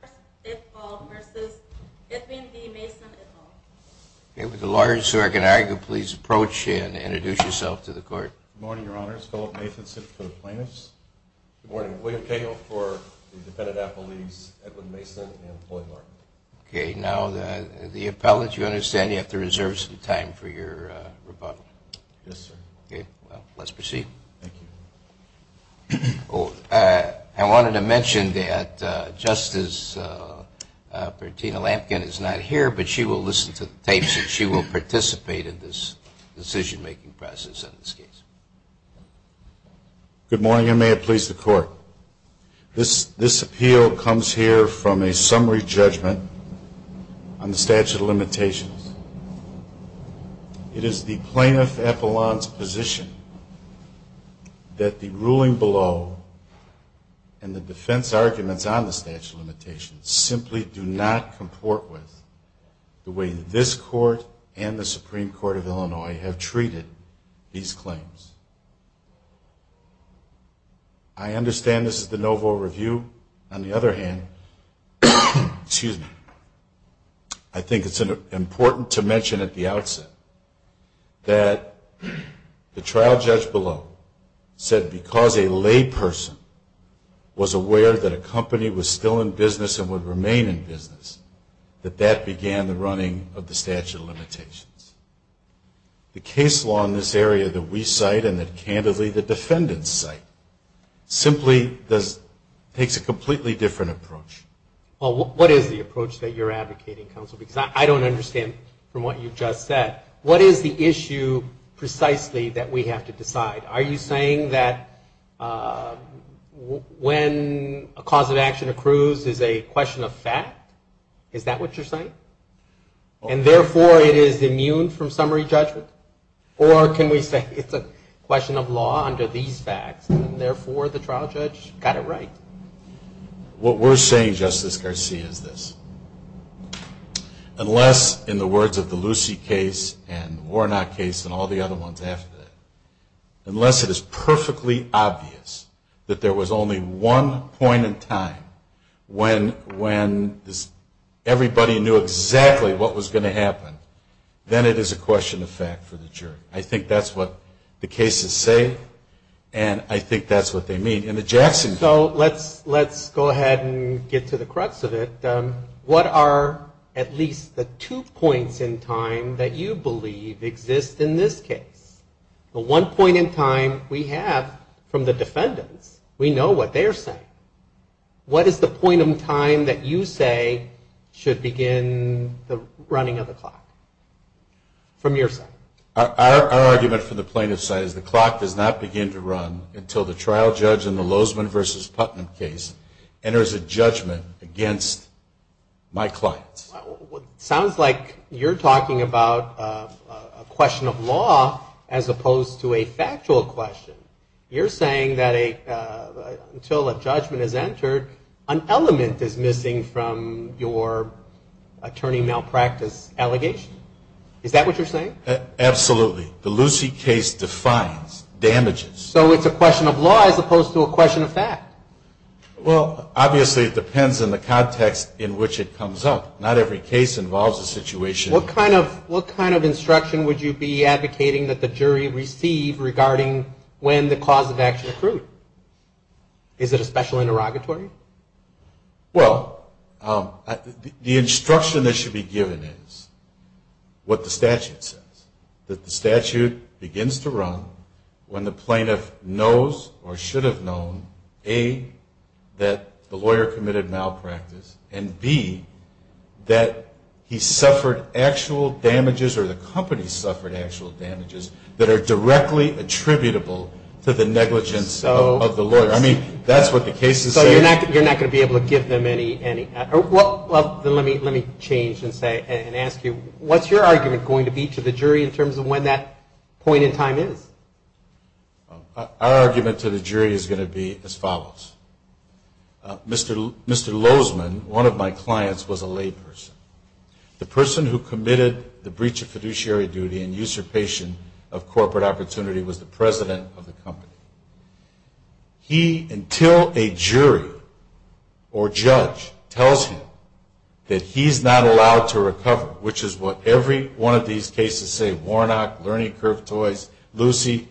v. Edwin D. Mason, et al. This appeal comes here from a summary judgment on the statute of limitations. It is the plaintiff not to comport with the way this Court and the Supreme Court of Illinois have treated these claims. I understand this is the no-vote review. On the other hand, I think it is important to mention at the outset that the trial judge below said because a lay person was aware that a company was still in business and would remain in business, that that began the running of the statute of limitations. The case law in this area that we cite and that, candidly, the defendants cite simply takes a completely different approach. Well, what is the approach that you're advocating, counsel? Because I don't understand from what you've just said. What is the issue precisely that we have to decide? Are you saying a cause of action accrues is a question of fact? Is that what you're saying? And therefore, it is immune from summary judgment? Or can we say it's a question of law under these facts, and therefore, the trial judge got it right? What we're saying, Justice Garcia, is this. Unless, in the words of the Lucy case and the Warnock case and all the other ones after that, unless it is perfectly obvious that there was only one point in time when everybody knew exactly what was going to happen, then it is a question of fact for the jury. I think that's what the cases say, and I think that's what they mean. In the Jackson case... So let's go ahead and get to the crux of it. What are at least the two points in time that you believe exist in this case? The one point in time we have from the defendants, we know what they're saying. What is the point in time that you say should begin the running of the clock, from your side? Our argument from the plaintiff's side is the clock does not begin to run until the trial judge in the Lozman v. Putnam case enters a judgment against my clients. Sounds like you're talking about a question of law as opposed to a factual question. You're saying that until a judgment is entered, an element is missing from your attorney malpractice allegation? Is that what you're saying? Absolutely. The Lucy case defines damages. So it's a question of law as opposed to a question of fact? Well, obviously it depends on the context in which it comes up. Not every case involves a situation... What kind of instruction would you be advocating that the jury receive regarding when the cause of action accrued? Is it a special interrogatory? Well, the instruction that should be given is what the statute says. That the statute begins to run when the plaintiff knows or should have known, A, that the lawyer committed malpractice and, B, that he suffered actual damages or the company suffered actual damages that are directly attributable to the negligence of the lawyer. I mean, that's what the case is saying. So you're not going to be able to give them any... Well, let me change and ask you, what's your argument going to be to the jury in terms of when that point in time is? Our argument to the jury is going to be as follows. Mr. Lozman, one of my clients, was a layperson. The person who committed the breach of fiduciary duty and usurpation of corporate opportunity was the president of the company. He, until a jury or judge tells him that he's not allowed to recover, which is what every one of these cases say, Warnock, Learning Curve Toys, Lucy,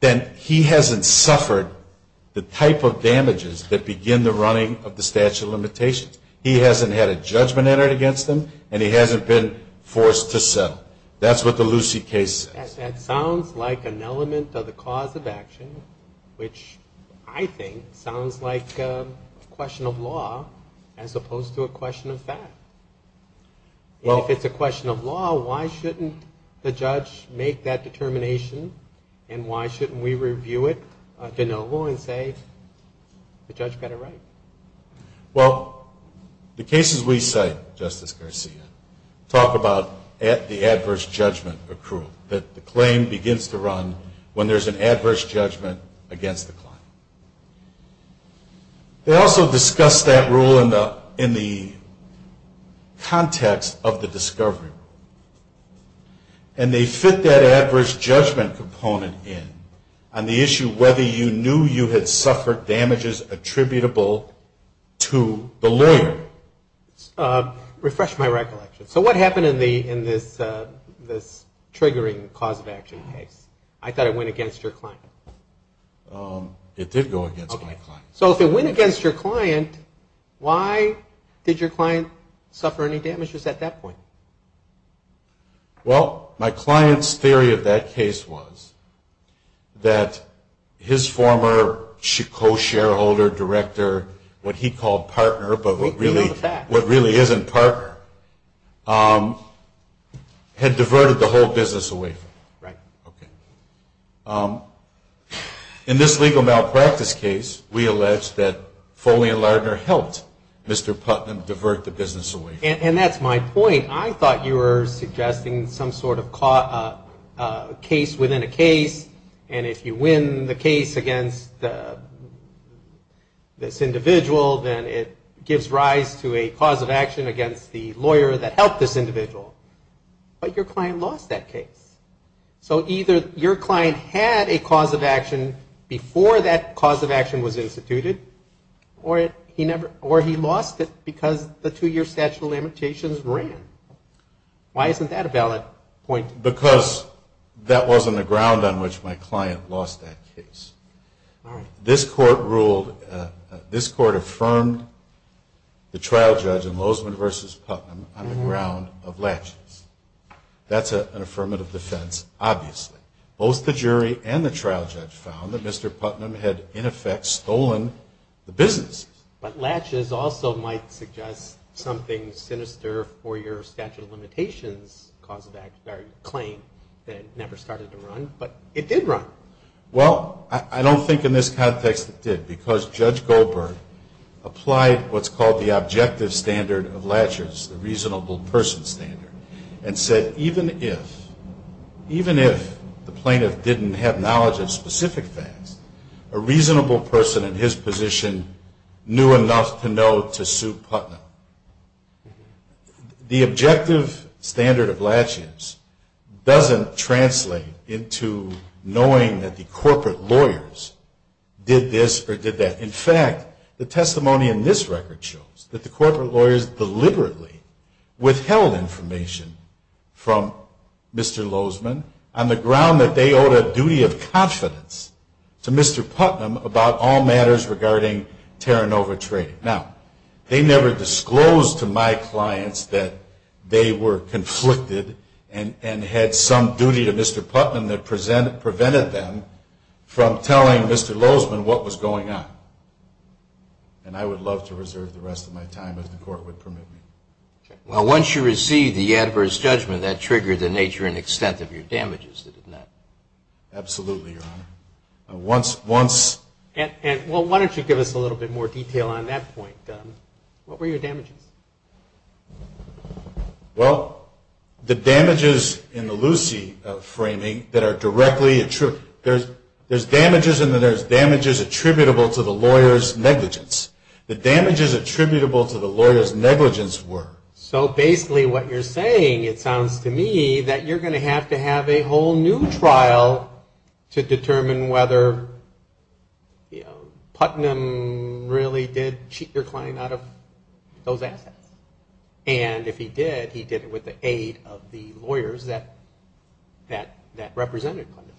then he hasn't suffered the type of damages that begin the running of the statute of limitations. He hasn't had a judgment entered against him and he hasn't been forced to settle. That's what the Lucy case says. That sounds like an element of the cause of action, which I think sounds like a question of law as opposed to a question of fact. If it's a question of law, why shouldn't the judge make that determination and why shouldn't we review it de novo and say the judge got it right? Well, the cases we cite, Justice Garcia, talk about the adverse judgment accrual, that the claim begins to run when there's an adverse judgment against the client. They also discuss that rule in the context of the discovery. And they fit that adverse judgment component in on the issue whether you knew you had suffered damages attributable to the lawyer. Refresh my recollection. So what happened in this triggering cause of action case? I thought it went against your client. It did go against my client. So if it went against your client, why did your client suffer any damages at that point? Well, my client's theory of that case was that his former co-shareholder, director, what he called partner, but what really isn't partner, had diverted the whole business away from him. Right. Okay. In this legal malpractice case, we allege that Foley and Lardner helped Mr. Putnam divert the business away from him. And that's my point. I thought you were suggesting some sort of case within a case, and if you win the case against this individual, then it gives rise to a cause of action against the lawyer that helped this individual. But your client lost that case. So either your client had a cause of action before that cause of action was instituted, or he lost it because the two-year statute of limitations ran. Why isn't that a valid point? Because that wasn't the ground on which my client lost that case. All right. This court ruled, this court affirmed the trial judge in Lozman v. Putnam on the ground of latches. That's an affirmative defense, obviously. Both the jury and the trial judge found that Mr. Putnam had, in effect, stolen the business. But latches also might suggest something sinister for your statute of limitations claim that never started to run, but it did run. Well, I don't think in this context it did, because Judge Goldberg applied what's called the objective standard of latches, the reasonable person standard, and said even if, even if the plaintiff didn't have knowledge of specific facts, a reasonable person in his position knew enough to know to sue Putnam. Now, the objective standard of latches doesn't translate into knowing that the corporate lawyers did this or did that. In fact, the testimony in this record shows that the corporate lawyers deliberately withheld information from Mr. Lozman on the ground that they owed a duty of confidence to Mr. Putnam about all matters regarding Terranova Trading. Now, they never disclosed to my clients that they were conflicted and had some duty to Mr. Putnam that prevented them from telling Mr. Lozman what was going on. And I would love to reserve the rest of my time, if the Court would permit me. Well, once you receive the adverse judgment, that triggered the nature and extent of your damages, didn't it? Absolutely, Your Honor. Once... Well, why don't you give us a little bit more detail on that point? What were your damages? Well, the damages in the Lucy framing that are directly attributable. There's damages and then there's damages attributable to the lawyer's negligence. The damages attributable to the lawyer's negligence were... So basically what you're saying, it sounds to me, that you're going to have to have a whole new trial to determine whether Putnam really did cheat your client out of those assets. And if he did, he did it with the aid of the lawyers that represented Putnam.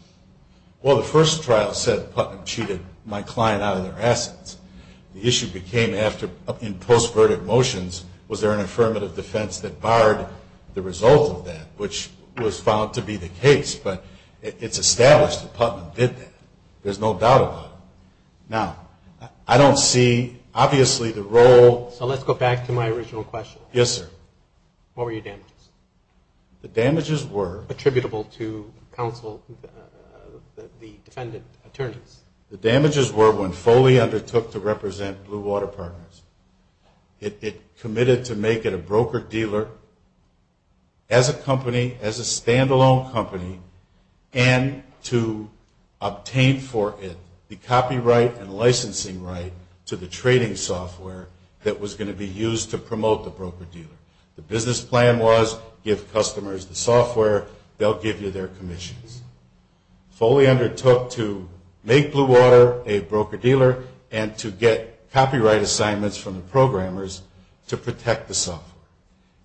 Well, the first trial said Putnam cheated my client out of their assets. The issue became after, in post-verdict motions, was there an affirmative defense that barred the result of that, which was found to be the case. But it's established that Putnam did that. There's no doubt about it. Now, I don't see, obviously, the role... So let's go back to my original question. Yes, sir. What were your damages? The damages were... Attributable to counsel, the defendant attorneys. The damages were when Foley undertook to represent Blue Water Partners. It committed to make it a broker-dealer as a company, as a stand-alone company, and to obtain for it the copyright and licensing right to the trading software that was going to be used to promote the broker-dealer. The business plan was give customers the software, they'll give you their commissions. Foley undertook to make Blue Water a broker-dealer and to get copyright assignments from the software.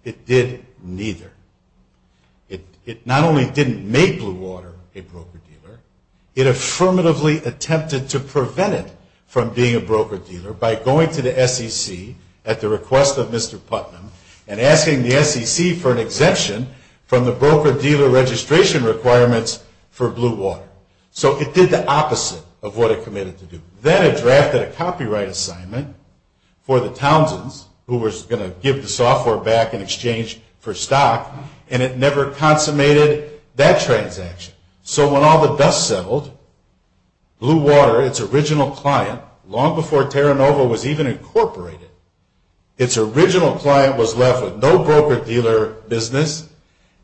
It did neither. It not only didn't make Blue Water a broker-dealer, it affirmatively attempted to prevent it from being a broker-dealer by going to the SEC at the request of Mr. Putnam and asking the SEC for an exemption from the broker-dealer registration requirements for Blue Water. So it did the opposite of what it committed to do. Then it drafted a software back in exchange for stock, and it never consummated that transaction. So when all the dust settled, Blue Water, its original client, long before Terra Nova was even incorporated, its original client was left with no broker-dealer business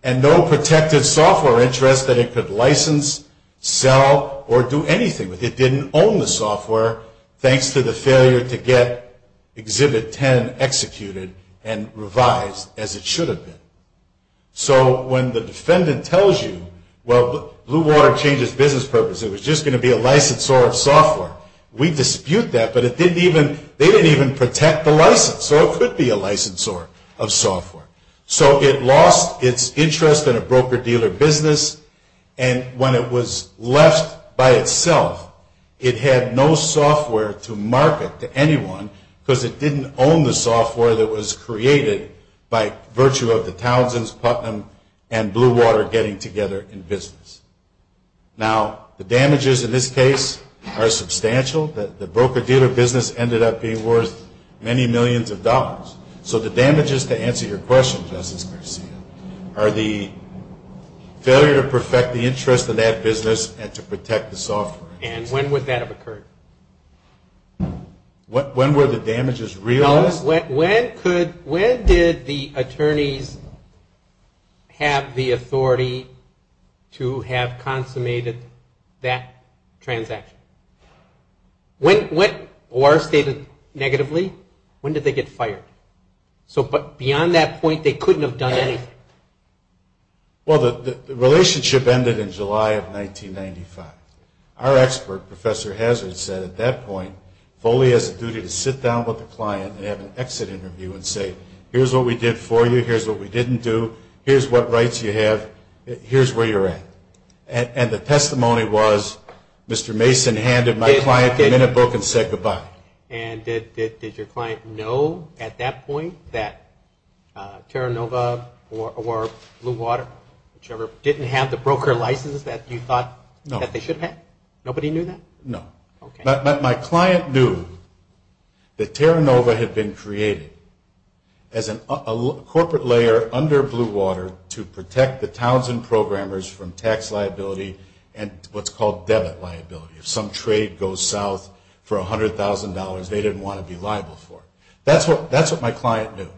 and no protected software interest that it could license, sell, or do anything with. It didn't own the software thanks to the failure to get Exhibit 10 executed and revised as it should have been. So when the defendant tells you, well, Blue Water changed its business purpose. It was just going to be a licensor of software. We dispute that, but they didn't even protect the license, so it could be a licensor of software. So it lost its interest in a broker-dealer business, and when it was left by itself, it had no software to market to anyone because it didn't own the software that was created by virtue of the Townsends, Putnam, and Blue Water getting together in business. Now, the damages in this case are substantial. The broker-dealer business ended up being worth many millions of dollars. So the damages, to answer your question, Justice Garcia, are the failure to perfect the interest of that business and to protect the software. And when would that have occurred? When were the damages realized? When did the attorneys have the authority to have consummated that transaction? Or stated negatively, when did they get fined? When did they get fired? So beyond that point, they couldn't have done anything. Well, the relationship ended in July of 1995. Our expert, Professor Hazard, said at that point, Foley has a duty to sit down with the client and have an exit interview and say, here's what we did for you, here's what we didn't do, here's what rights you have, here's where you're at. And the testimony was, Mr. Mason handed my client the minute book and said goodbye. And did your client know at that point that Terranova or Blue Water, whichever, didn't have the broker license that you thought that they should have? Nobody knew that? No. My client knew that Terranova had been created as a corporate layer under Blue Water to protect the towns and programmers from tax liability and what's called debit liability. If some person had $100,000, they didn't want to be liable for it. That's what my client knew.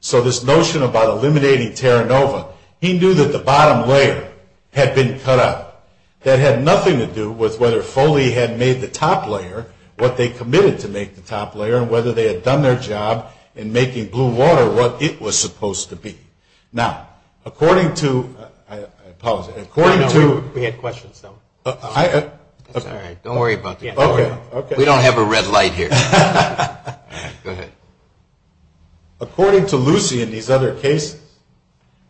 So this notion about eliminating Terranova, he knew that the bottom layer had been cut out. That had nothing to do with whether Foley had made the top layer what they committed to make the top layer and whether they had done their job in making Blue Water what it was supposed to be. Now, according to... I apologize. According to... I'm in the red light here. Go ahead. According to Lucey in these other cases,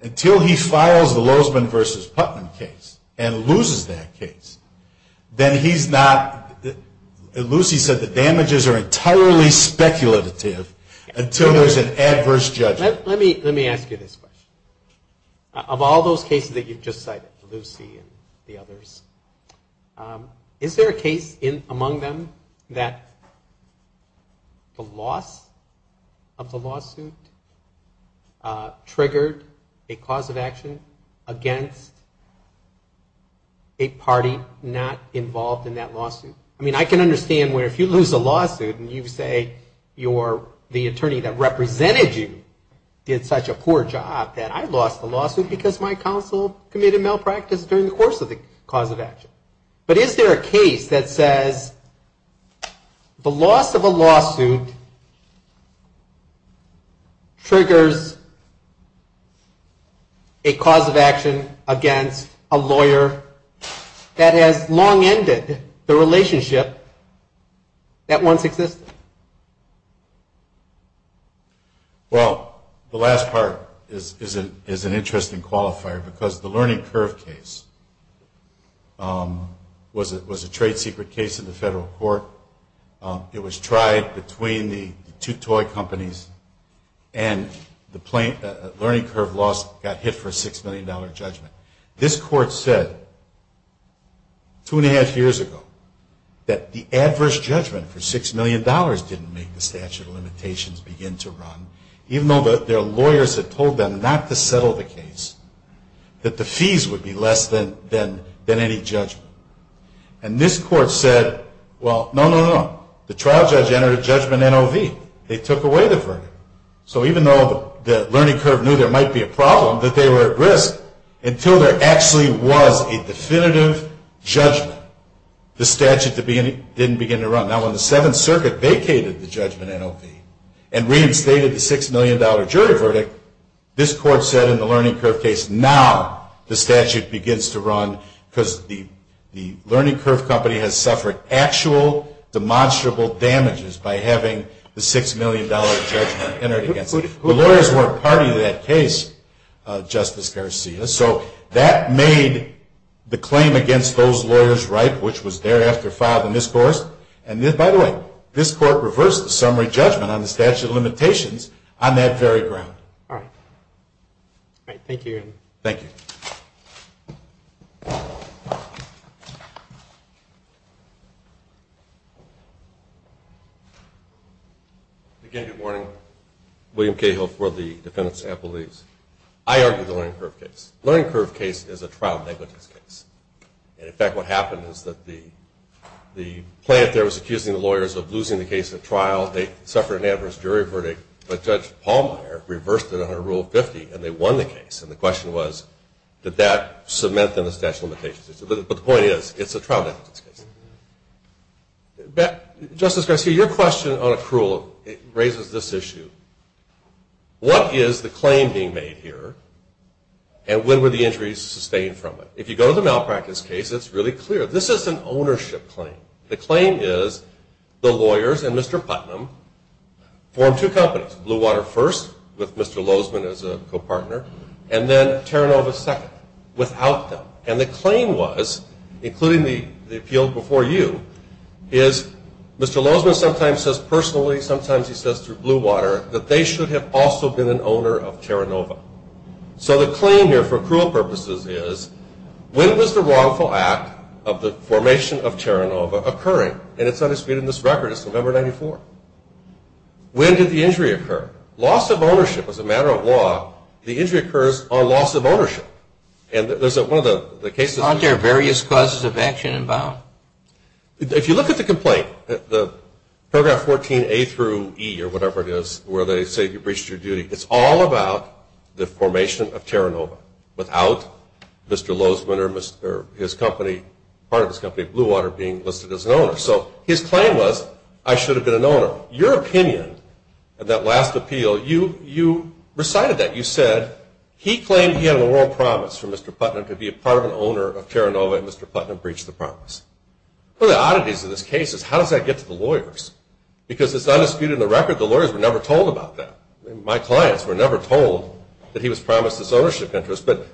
until he files the Lozman v. Putman case and loses that case, then he's not... Lucey said the damages are entirely speculative until there's an adverse judgment. Let me ask you this question. Of all those cases that you've just cited, Lucey and the Luzman, the loss of the lawsuit triggered a cause of action against a party not involved in that lawsuit. I mean, I can understand where if you lose a lawsuit and you say you're the attorney that represented you did such a poor job that I lost the lawsuit because my counsel committed malpractice during the course of the cause of action. But is there a case that says the loss of a lawsuit triggers a cause of action against a lawyer that has long ended the relationship that once existed? Well, the last part is an interesting qualifier because the Learning Curve case was a case that was a trade secret case in the federal court. It was tried between the two toy companies and the Learning Curve loss got hit for a $6 million judgment. This court said two and a half years ago that the adverse judgment for $6 million didn't make the statute of limitations begin to run, even though their lawyers had told them not to settle the case, that the fees would be less than any judgment. And this court said, well, no, no, no. The trial judge entered a judgment NOV. They took away the verdict. So even though the Learning Curve knew there might be a problem, that they were at risk until there actually was a definitive judgment, the statute didn't begin to run. Now when the Seventh Circuit vacated the judgment NOV and reinstated the $6 million jury verdict, this court said in the Learning Curve case, now the statute begins to run because the Learning Curve company has suffered actual demonstrable damages by having the $6 million judgment entered against it. The lawyers weren't party to that case, Justice Garcia. So that made the claim against those lawyers ripe, which was thereafter filed in this court. And by the way, this on that very ground. Again, good morning. William Cahill for the Defendant's Appeals. I argue the Learning Curve case. The Learning Curve case is a trial negligence case. And in fact, what happened is that the plaintiff there was accusing the lawyers of losing the case at trial. They suffered an adverse jury verdict, but Judge Pallmeyer reversed it under Rule 50 and they won the case. And the question was, did that cement them to statute of limitations? But the point is, it's a trial negligence case. Justice Garcia, your question on accrual raises this issue. What is the claim being made here and when were the injuries sustained from it? If you go to the malpractice case, it's really clear. This is an ownership claim. The claim is the lawyers and Mr. Putnam formed two companies, Blue Water first with Mr. Lozman as a co-partner, and then Terranova second without them. And the claim was, including the appeal before you, is Mr. Lozman sometimes says personally, sometimes he says through Blue Water, that they should have also been an owner of Terranova. So the claim here for accrual purposes is, when was the wrongful act of the formation of Terranova occurring? And it's not disputed in this record, it's November 94. When did the injury occur? Loss of ownership was a matter of law. The injury occurs on loss of ownership. And there's one of the cases... Aren't there various causes of action involved? If you look at the complaint, the paragraph 14A through E or whatever it is, where they say you breached your duty, it's all about the formation of Terranova without Mr. Lozman or his company, part of his company, Blue Water being listed as an owner. So his claim was, I should have been an owner. Your opinion of that last appeal, you recited that. You said he claimed he had a world promise for Mr. Putnam to be a part of an owner of Terranova and Mr. Putnam breached the promise. One of the oddities of this case is, how does that get to the lawyers? Because it's not disputed in the record, the lawyers were never told about that. My clients were never told that he was promised this ownership interest. But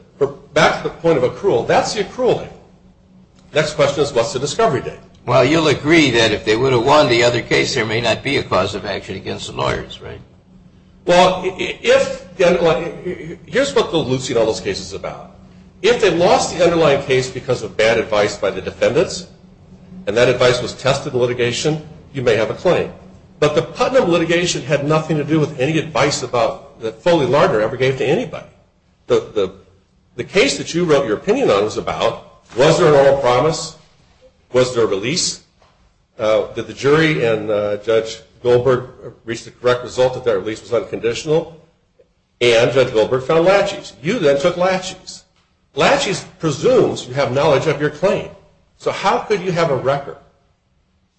back to the point of accrual, that's the accrual thing. Next question is, what's the discovery date? Well, you'll agree that if they would have won the other case, there may not be a cause of action against the lawyers, right? Well, if... Here's what the Lucy and all those cases are about. If they lost the underlying case because of bad advice by the defendants, and that advice was tested in litigation, you may have a claim. But the Putnam litigation had nothing to do with any advice that Foley Lardner ever gave to anybody. The case that you wrote your opinion on was about, was there a normal promise? Was there a release? Did the jury and Judge Goldberg reach the correct result that that release was unconditional? And Judge Goldberg found laches. You then took laches. Laches presumes you have knowledge of your claim. So how could you have a record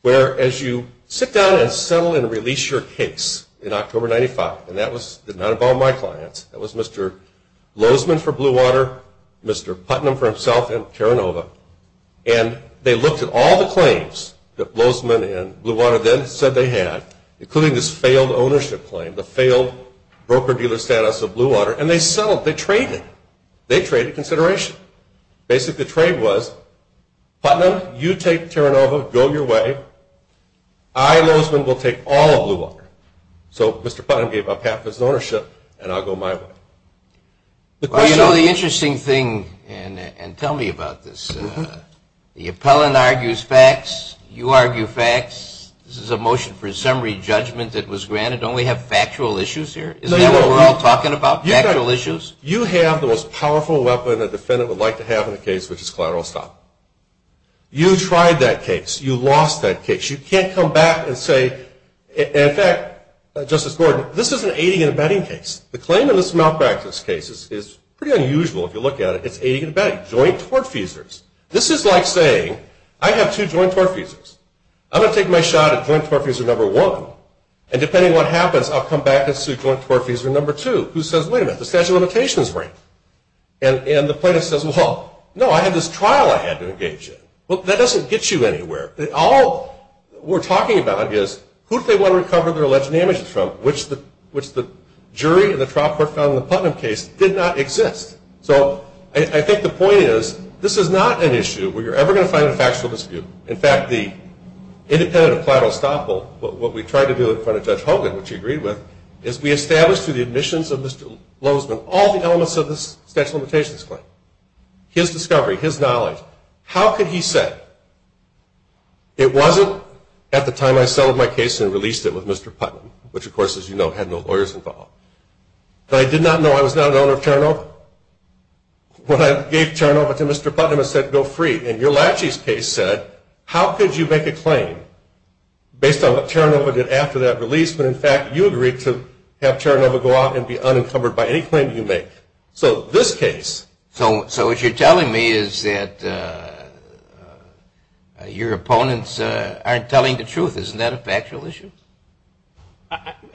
where as you sit down and settle and release your case in October 95, and that was not about my clients, that was Mr. Lozman for Blue Water, Mr. Putnam for himself and Terranova, and they looked at all the claims that Lozman and Blue Water then said they had, including this failed ownership claim, the failed broker-dealer status of Blue Water, and they settled, they traded consideration. Basically the trade was, Putnam, you take Terranova, go your way, I, Lozman, will take all of Blue Water. So Mr. Putnam gave up half his ownership, and I'll go my way. Well you know the interesting thing, and tell me about this, the appellant argues facts, you argue facts, this is a motion for summary judgment that was granted, don't we have factual issues here? Is that what we're all talking about, factual issues? You have the most powerful weapon a defendant would like to have in a case which is collateral stop. You tried that case, you lost that case, you can't come back and say, in fact, Justice Gordon, this is an aiding and abetting case. The claim in this malpractice case is pretty unusual if you look at it, it's aiding and abetting, joint tortfeasors. This is like saying, I have two joint tortfeasors, I'm going to take my shot at joint tortfeasor number one, and depending on what happens, I'll come back and sue joint tortfeasor number two, who says, wait a minute, the statute of limitations is right. And the plaintiff says, well, no, I had this trial I had to engage in. Well that doesn't get you anywhere. All we're talking about is, who do they want to recover their alleged damages from, which the jury and the trial court found in the Putnam case did not exist. So I think the point is, this is not an issue where you're ever going to find a factual dispute. In fact, the independent of collateral stop will, what we tried to do in front of Judge Hogan, which of Mr. Lozman, all the elements of this statute of limitations claim, his discovery, his knowledge, how could he say, it wasn't at the time I settled my case and released it with Mr. Putnam, which of course, as you know, had no lawyers involved. But I did not know I was not an owner of Terranova. When I gave Terranova to Mr. Putnam, I said, go free. And your Lachey's case said, how could you make a claim based on what Terranova did after that release, when in fact, you agreed to have Terranova go out and be unencumbered by any claim you make. So this case. So what you're telling me is that your opponents aren't telling the truth. Isn't that a factual issue?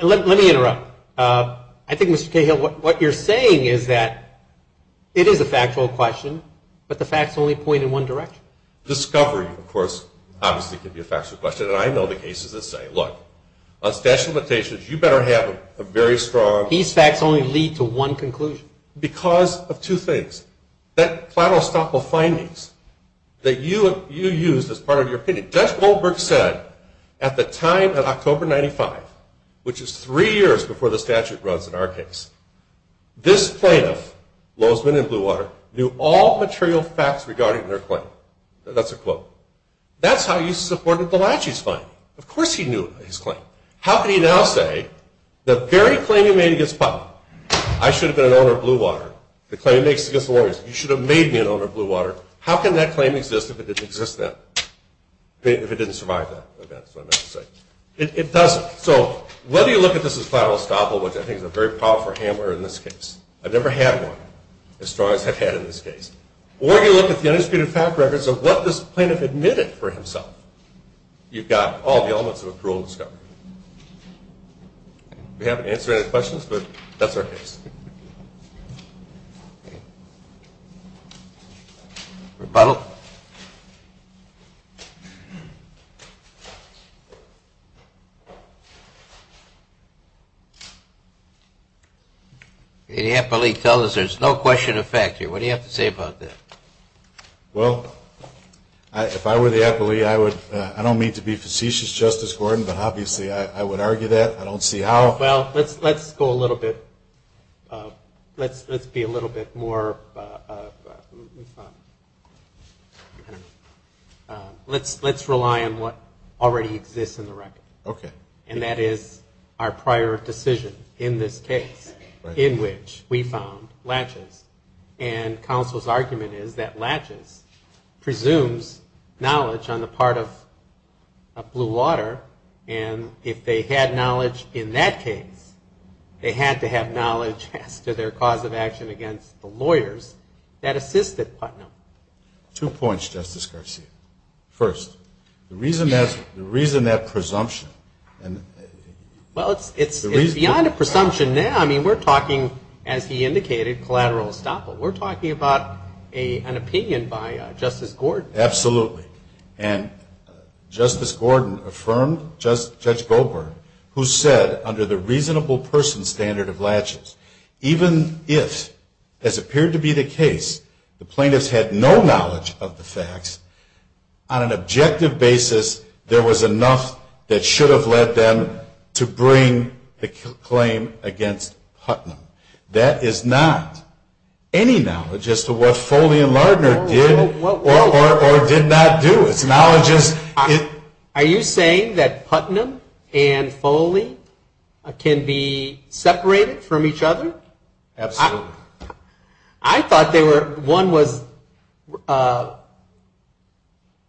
Let me interrupt. I think, Mr. Cahill, what you're saying is that it is a factual question, but the facts only point in one direction. Discovery, of course, obviously could be a factual question. And I know the cases that I say, look, on statute of limitations, you better have a very strong... These facts only lead to one conclusion. Because of two things. That platter of stock of findings that you used as part of your opinion. Judge Goldberg said, at the time of October 95, which is three years before the statute runs in our case, this plaintiff, Lozman in Bluewater, knew all material facts regarding their claim. That's a quote. That's how you supported the Lachey's claim. Of course he knew his claim. How can he now say, the very claim he made against Putnam, I should have been an owner of Bluewater. The claim he makes against the lawyers, you should have made me an owner of Bluewater. How can that claim exist if it didn't exist then? If it didn't survive that event, is what I meant to say. It doesn't. So whether you look at this as final estoppel, which I think is a very powerful hammer in this case. I've never had one as strong as I've had in this case. Or you look at the undisputed fact records of what this plaintiff admitted for himself. You've got all the elements of a cruel discovery. We haven't answered any questions, but that's our case. Rebuttal. The appellee tells us there's no question of fact here. What do you have to say about that? Well, if I were the appellee, I don't mean to be facetious, Justice Gordon, but obviously I would argue that. I don't see how. Well, let's go a little bit, let's be a little bit more, let's rely on what already exists in the record. And that is our prior decision in this case, in which we found Lachey's. And counsel's argument is that Lachey's presumes knowledge on the part of Blue Water. And if they had knowledge in that case, they had to have knowledge as to their cause of action against the lawyers that assisted Putnam. Two points, Justice Garcia. First, the reason that presumption, and the reason that Well, it's beyond a presumption now. I mean, we're talking, as he indicated, collateral estoppel. We're talking about an opinion by Justice Gordon. Absolutely. And Justice Gordon affirmed, Judge Goldberg, who said under the reasonable person standard of Lachey's, even if, as appeared to be the case, the plaintiffs had no knowledge of the facts, on an objective basis, there was enough that should have led them to bring the claim against Putnam. That is not any knowledge as to what Foley and Lardner did or did not do. It's knowledge as Are you saying that Putnam and Foley can be separated from each other? Absolutely. I thought they were, one was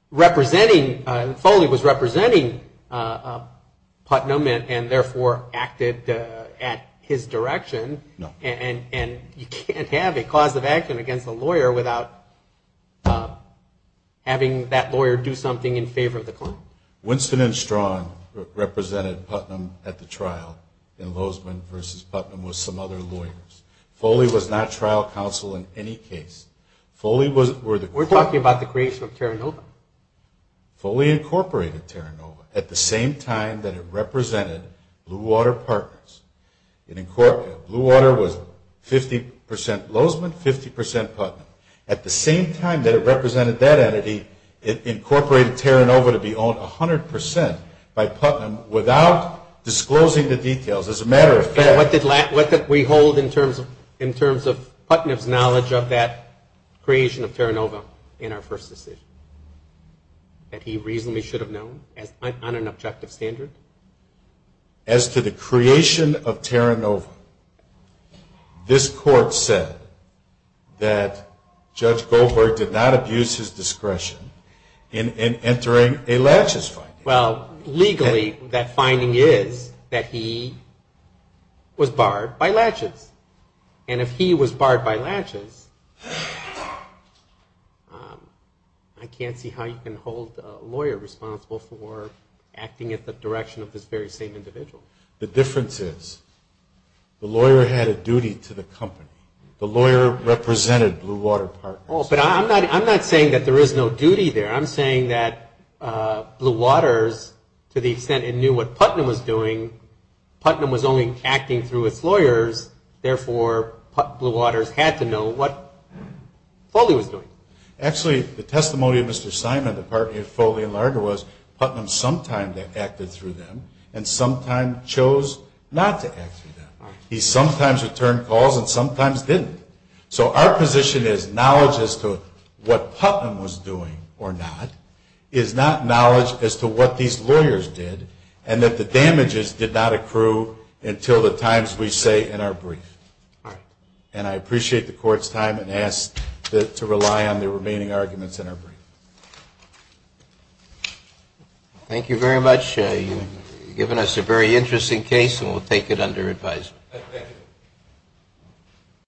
representing, Foley was representing Putnam and therefore acted at his direction. And you can't have a cause of action against a lawyer without having that lawyer do something in favor of the client. Winston and Strawn represented Putnam at the trial in Lozeman versus Putnam with some other lawyers. Foley was not trial counsel in any case. Foley was We're talking about the creation of Terranova. Foley incorporated Terranova at the same time that it represented Blue Water Partners. Blue Water was 50% Lozeman, 50% Putnam. At the same time that it represented that entity, it incorporated Terranova to be owned 100% by Putnam without disclosing the details. As a matter of fact But what did we hold in terms of Putnam's knowledge of that creation of Terranova in our first decision? That he reasonably should have known on an objective standard? As to the creation of Terranova, this court said that Judge Goldberg did not abuse his discretion in entering a laches finding. Well, legally that finding is that he was barred by laches. And if he was barred by laches, I can't see how you can hold a lawyer responsible for acting at the direction of this very same individual. The difference is the lawyer had a duty to the company. The lawyer represented Blue Water Partners. But I'm not saying that there is no duty there. I'm saying that Blue Water, to the extent it knew what Putnam was doing, Putnam was only acting through its lawyers, therefore Blue Water had to know what Foley was doing. Actually the testimony of Mr. Simon, the partner of Foley and Larger was Putnam sometimes acted through them and sometimes chose not to act through them. He sometimes returned calls and sometimes didn't. So our position is knowledge as to what Putnam was doing or not is not knowledge as to what these lawyers did and that the damages did not accrue until the times we say in our brief. And I appreciate the Court's time and ask to rely on the remaining arguments in our brief. Thank you very much. You've given us a very interesting case and we'll take it under advice.